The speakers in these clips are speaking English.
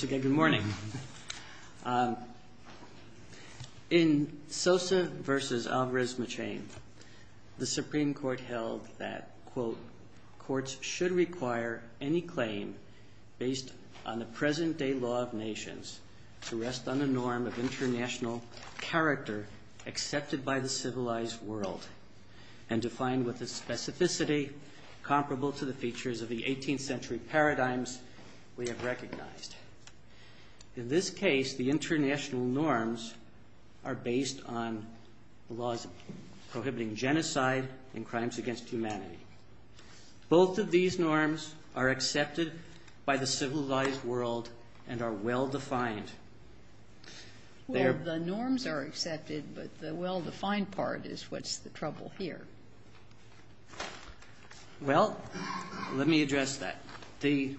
Good morning. In Sosa v. Alvarez-Machain, the Supreme Court held that, quote, courts should require any claim based on the present-day law of nations to rest on the norm of international character accepted by the civilized world and defined with a specificity comparable to the features of the 18th-century paradigms we have recognized. In this case, the international norms are based on laws prohibiting genocide and crimes against humanity. Both of these norms are accepted by the civilized world and are well defined. Well, the norms are accepted, but the well-defined part is what's the trouble here. Well, let me address that. The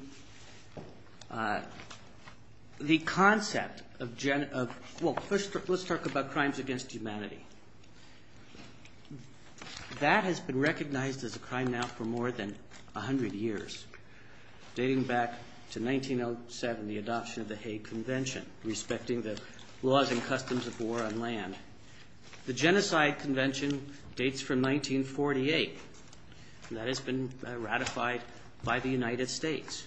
concept of gen – well, first, let's talk about crimes against humanity. That has been recognized as a crime now for more than 100 years, dating back to 1907, the adoption of the Hague Convention respecting the laws and customs of war on land. The Genocide Convention dates from 1948, and that has been ratified by the United States.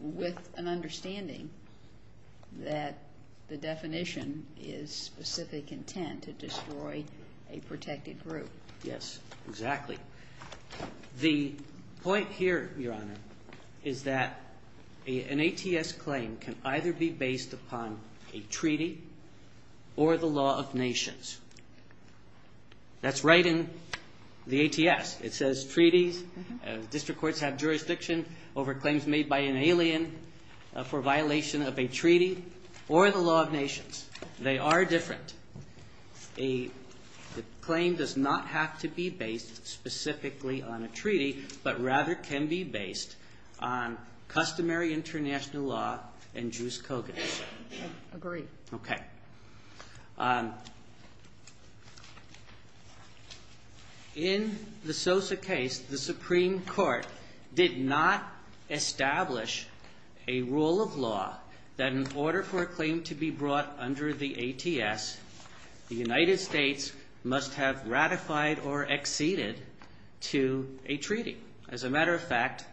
With an understanding that the definition is specific intent to destroy a protected group. Yes, exactly. The point here, Your Honor, is that an ATS claim can either be based upon a treaty or the law of nations. That's right in the ATS. It says treaties, district courts have jurisdiction over claims made by an alien for violation of a treaty or the law of nations. They are different. A claim does not have to be based specifically on a treaty, but rather can be based on customary international law and Jews' covenants. Agreed. Okay. In the Sosa case, the Supreme Court did not establish a rule of law that in order for a claim to be brought under the ATS, the United States must have ratified or acceded to a treaty. As a matter of fact,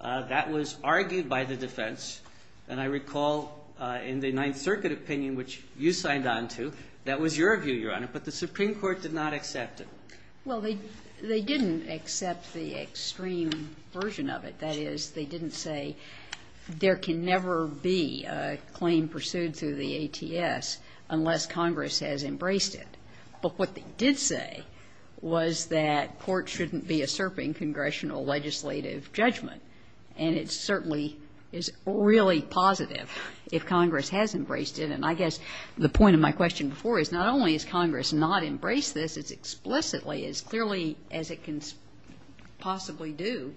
that was argued by the defense. And I recall in the Ninth Circuit opinion, which you signed on to, that was your view, Your Honor. But the Supreme Court did not accept it. Well, they didn't accept the extreme version of it. That is, they didn't say there can never be a claim pursued through the ATS unless Congress has embraced it. But what they did say was that court shouldn't be usurping congressional legislative judgment. And it certainly is really positive if Congress has embraced it. And I guess the point of my question before is not only has Congress not embraced this as explicitly, as clearly as it can possibly do,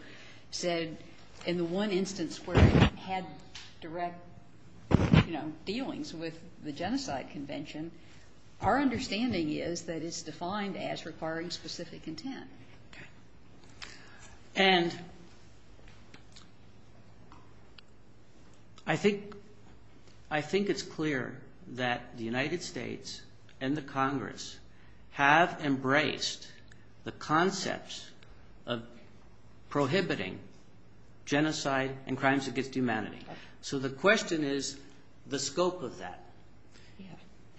said in the one instance where it had direct, you know, dealings with the Genocide Convention, our understanding is that it's defined as requiring specific intent. Okay. And I think it's clear that the United States and the Congress have embraced the concepts of prohibiting genocide and crimes against humanity. So the question is the scope of that.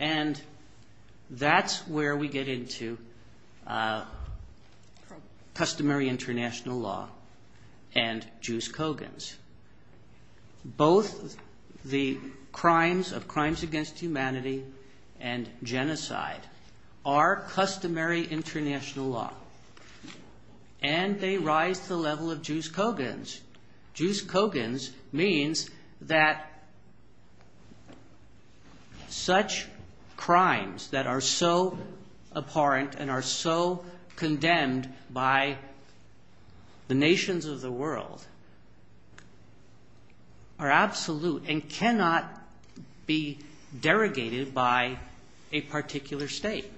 And that's where we get into customary international law and Juice Kogans. Both the crimes of crimes against humanity and genocide are customary international law. And they rise to the level of Juice Kogans. Juice Kogans means that such crimes that are so abhorrent and are so condemned by the nations of the world are absolute and cannot be derogated by a particular state.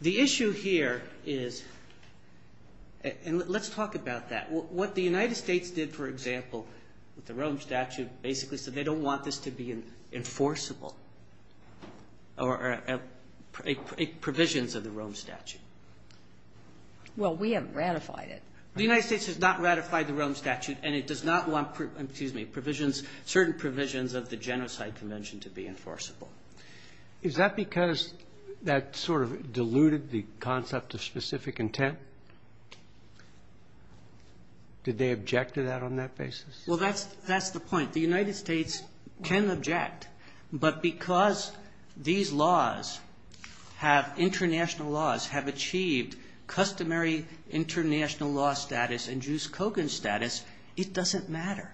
The issue here is, and let's talk about that. What the United States did, for example, with the Rome Statute, basically said they don't want this to be enforceable or provisions of the Rome Statute. Well, we haven't ratified it. The United States has not ratified the Rome Statute, and it does not want certain provisions of the Genocide Convention to be enforceable. Is that because that sort of diluted the concept of specific intent? Did they object to that on that basis? Well, that's the point. The United States can object, but because these laws have, international laws, have achieved customary international law status and Juice Kogans status, it doesn't matter.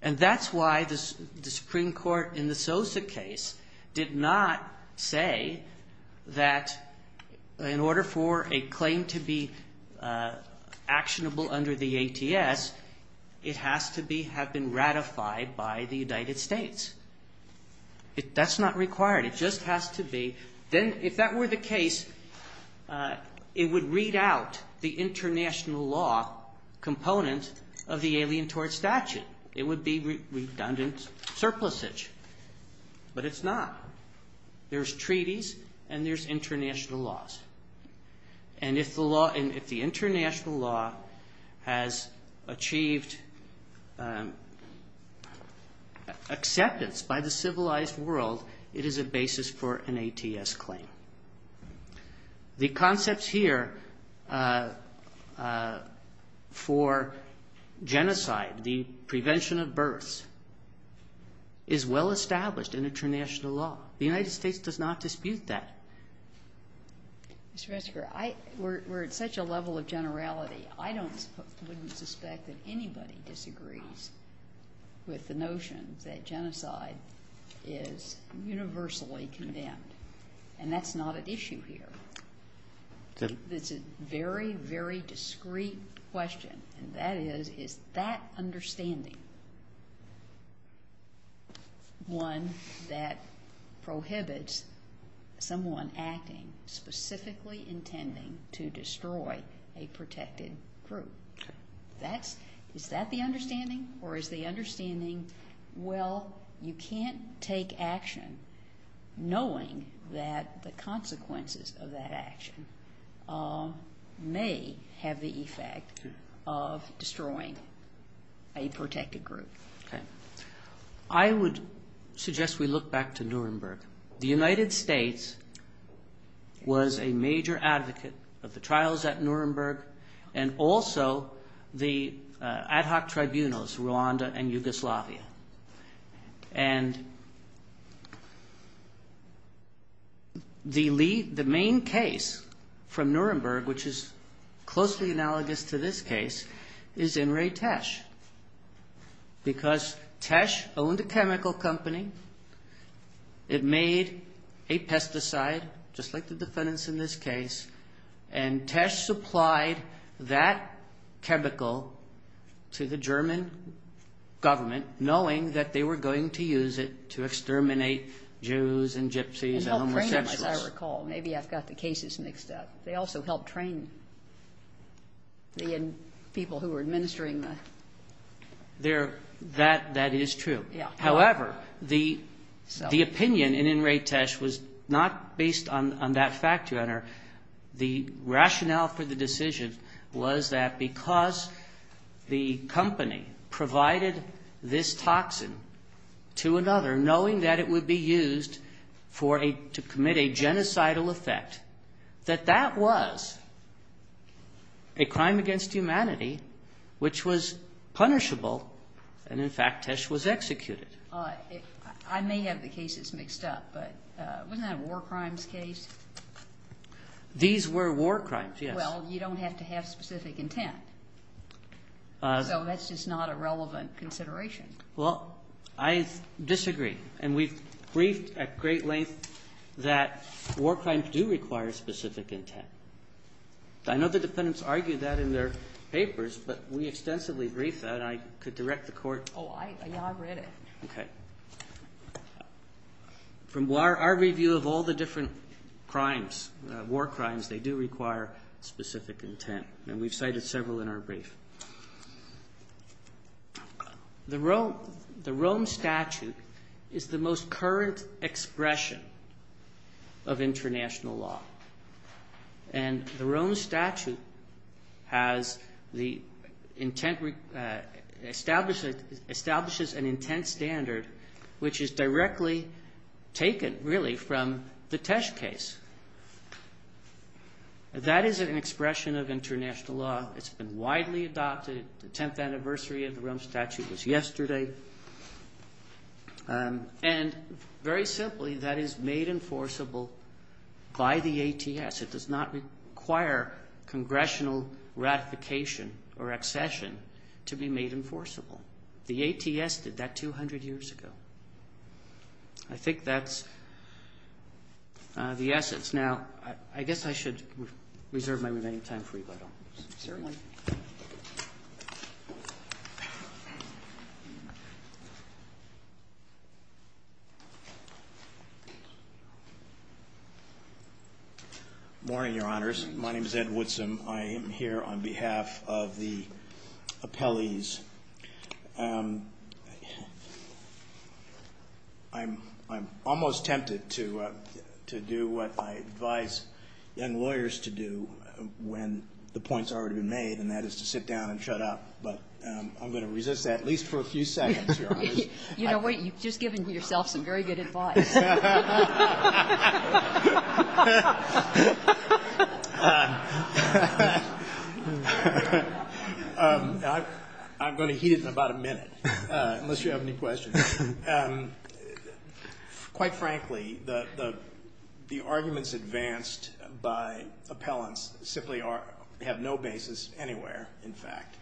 And that's why the Supreme Court in the Sosa case did not say that in order for a claim to be actionable under the ATS, it has to have been ratified by the United States. That's not required. It just has to be. Then if that were the case, it would read out the international law component of the Alien Tort Statute. It would be redundant surplusage. But it's not. There's treaties and there's international laws. And if the law, if the international law has achieved acceptance by the civilized world, it is a basis for an ATS claim. The concepts here for genocide, the prevention of births, is well established in international law. The United States does not dispute that. Mr. Ressiger, I, we're at such a level of generality, I don't, wouldn't suspect that anybody disagrees with the notion that genocide is universally condemned. And that's not at issue here. It's a very, very discreet question. And that is, is that understanding one that prohibits someone acting specifically intending to destroy a protected group? That's, is that the understanding? Or is the understanding, well, you can't take action knowing that the consequences of that action may have the effect of destroying a protected group? Okay. I would suggest we look back to Nuremberg. The United States was a major advocate of the trials at Nuremberg and also the ad hoc tribunals, Rwanda and Yugoslavia. And the lead, the main case from Nuremberg, which is closely analogous to this case, is Inrei Tesch. Because Tesch owned a chemical company. It made a pesticide, just like the defendants in this case, and Tesch supplied that chemical to the German government, knowing that they were going to use it to exterminate Jews and gypsies and homosexuals. And help train them, as I recall. Maybe I've got the cases mixed up. They also helped train the people who were administering the. That is true. However, the opinion in Inrei Tesch was not based on that fact, Your Honor. The rationale for the decision was that because the company provided this toxin to another, knowing that it would be used to commit a genocidal effect, that that was a crime against humanity which was punishable. And, in fact, Tesch was executed. I may have the cases mixed up, but wasn't that a war crimes case? These were war crimes, yes. Well, you don't have to have specific intent. So that's just not a relevant consideration. Well, I disagree. And we've briefed at great length that war crimes do require specific intent. I know the defendants argued that in their papers, but we extensively briefed that. I could direct the Court. Oh, I read it. Okay. From our review of all the different crimes, war crimes, they do require specific intent. And we've cited several in our brief. The Rome Statute is the most current expression of international law. And the Rome Statute has the intent, establishes an intent standard which is directly taken, really, from the Tesch case. That is an expression of international law. It's been widely adopted. The tenth anniversary of the Rome Statute was yesterday. And, very simply, that is made enforceable by the ATS. It does not require congressional ratification or accession to be made enforceable. The ATS did that 200 years ago. I think that's the essence. Now, I guess I should reserve my remaining time for you. Certainly. Good morning, Your Honors. My name is Ed Woodson. I am here on behalf of the appellees. I'm almost tempted to do what I advise young lawyers to do when the point's already been made, and that is to sit down and shut up. But I'm going to resist that, at least for a few seconds, Your Honors. You know what? You've just given yourself some very good advice. I'm going to heat it in about a minute, unless you have any questions. Quite frankly, the arguments advanced by appellants simply have no basis anywhere, in fact.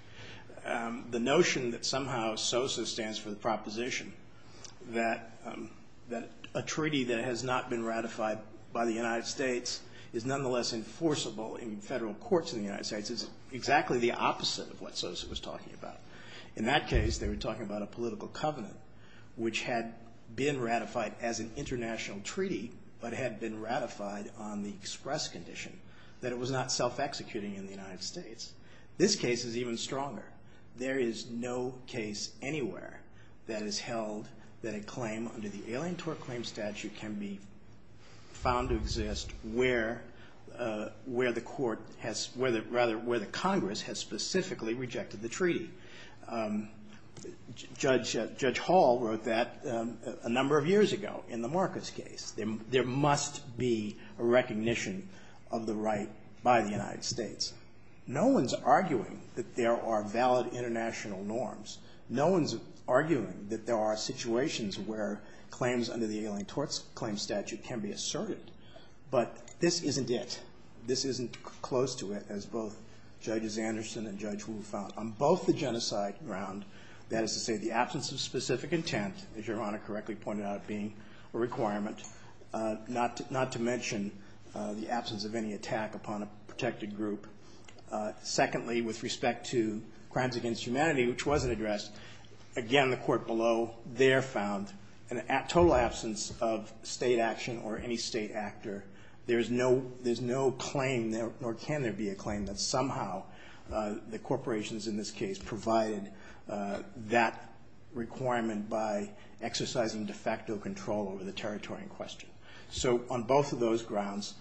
The notion that somehow SOSA stands for the proposition that a treaty that has not been ratified by the United States is nonetheless enforceable in federal courts in the United States is exactly the opposite of what SOSA was talking about. In that case, they were talking about a political covenant, which had been ratified as an international treaty, but had been ratified on the express condition that it was not self-executing in the United States. This case is even stronger. There is no case anywhere that has held that a claim under the Alien Tort Claim Statute can be found to exist where the Congress has specifically rejected the treaty. Judge Hall wrote that a number of years ago in the Marcus case. There must be a recognition of the right by the United States. No one's arguing that there are valid international norms. No one's arguing that there are situations where claims under the Alien Tort Claim Statute can be asserted. But this isn't it. This is a case where, as both Judges Anderson and Judge Wu found, on both the genocide ground, that is to say, the absence of specific intent, as Your Honor correctly pointed out, being a requirement, not to mention the absence of any attack upon a protected group. Secondly, with respect to crimes against humanity, which wasn't addressed, again, the court below there found a total absence of state action or any state actor. There's no claim, nor can there be a claim, that somehow the corporations in this case provided that requirement by exercising de facto control over the territory in question. So on both of those grounds,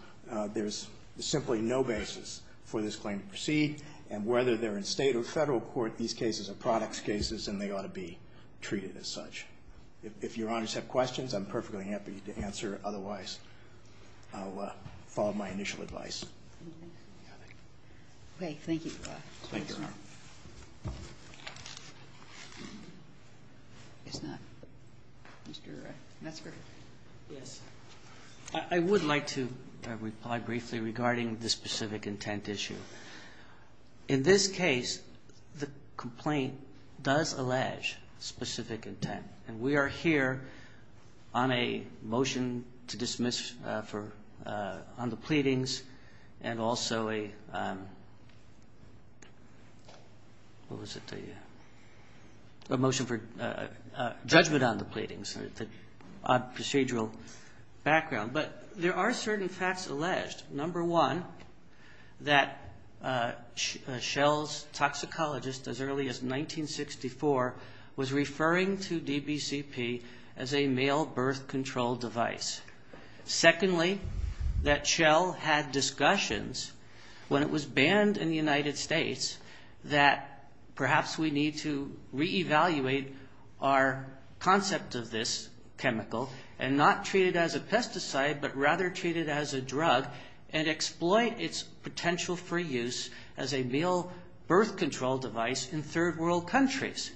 there's simply no basis for this claim to proceed. And whether they're in state or federal court, these cases are products cases and they ought to be treated as such. If Your Honors have questions, I'm perfectly happy to answer. Otherwise, I'll follow my initial advice. Thank you, Your Honor. I would like to reply briefly regarding the specific intent issue. In this case, the complaint does allege specific intent. And we are here on a motion to dismiss on the pleadings and also a motion for judgment on the pleadings, a procedural background. But there are certain facts alleged. Number one, that Shell's toxicologist as early as 1964 was referring to DBCP as a male birth control device. Secondly, that Shell had discussions when it was banned in the United States that perhaps we need to reevaluate our concept of this chemical and not treat it as a pesticide. But rather treat it as a drug and exploit its potential for use as a male birth control device in third world countries.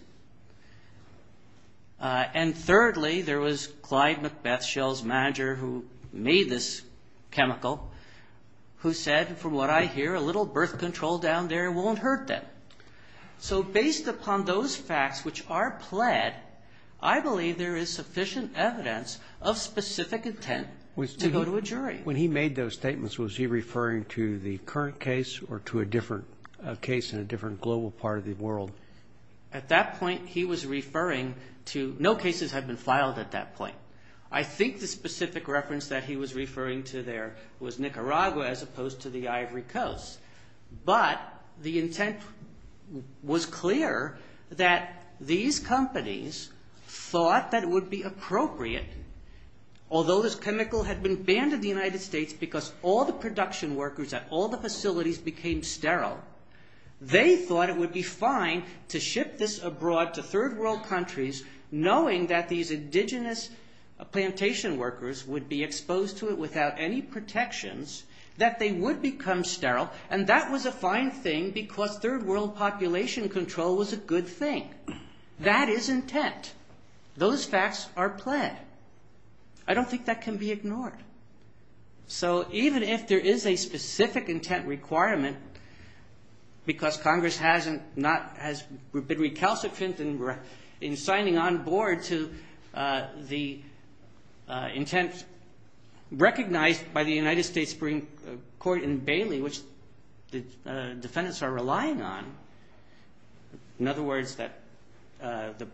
And thirdly, there was Clyde Macbeth, Shell's manager, who made this chemical, who said, from what I hear, a little birth control down there won't hurt them. So based upon those facts which are pled, I believe there is sufficient evidence of specific intent. And when he made those statements, was he referring to the current case or to a different case in a different global part of the world? At that point, he was referring to no cases had been filed at that point. I think the specific reference that he was referring to there was Nicaragua as opposed to the Ivory Coast. But the intent was clear that these companies thought that it would be appropriate, although this chemical had been banned in the United States, because all the production workers at all the facilities became sterile, they thought it would be fine to ship this abroad to third world countries, knowing that these indigenous plantation workers would be exposed to it without any protections, that they would become sterile. And that was a fine thing because third world population control was a good thing. That is intent. Those facts are pled. I don't think that can be ignored. So even if there is a specific intent requirement, because Congress has been recalcitrant in signing on board to the intent recognized by the United States Supreme Court in Bailey, which the defendants are relying on. In other words, the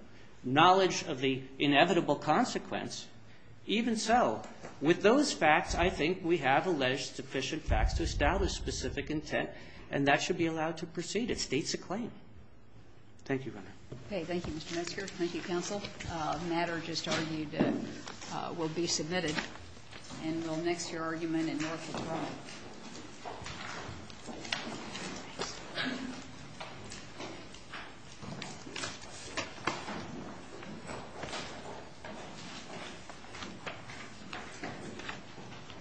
knowledge of the inevitable consequence, even so, with those facts, I think we have alleged sufficient facts to establish specific intent, and that should be allowed to proceed. It states a claim. Thank you, Your Honor. Thank you, Mr. Metzger. Thank you, counsel. Thank you.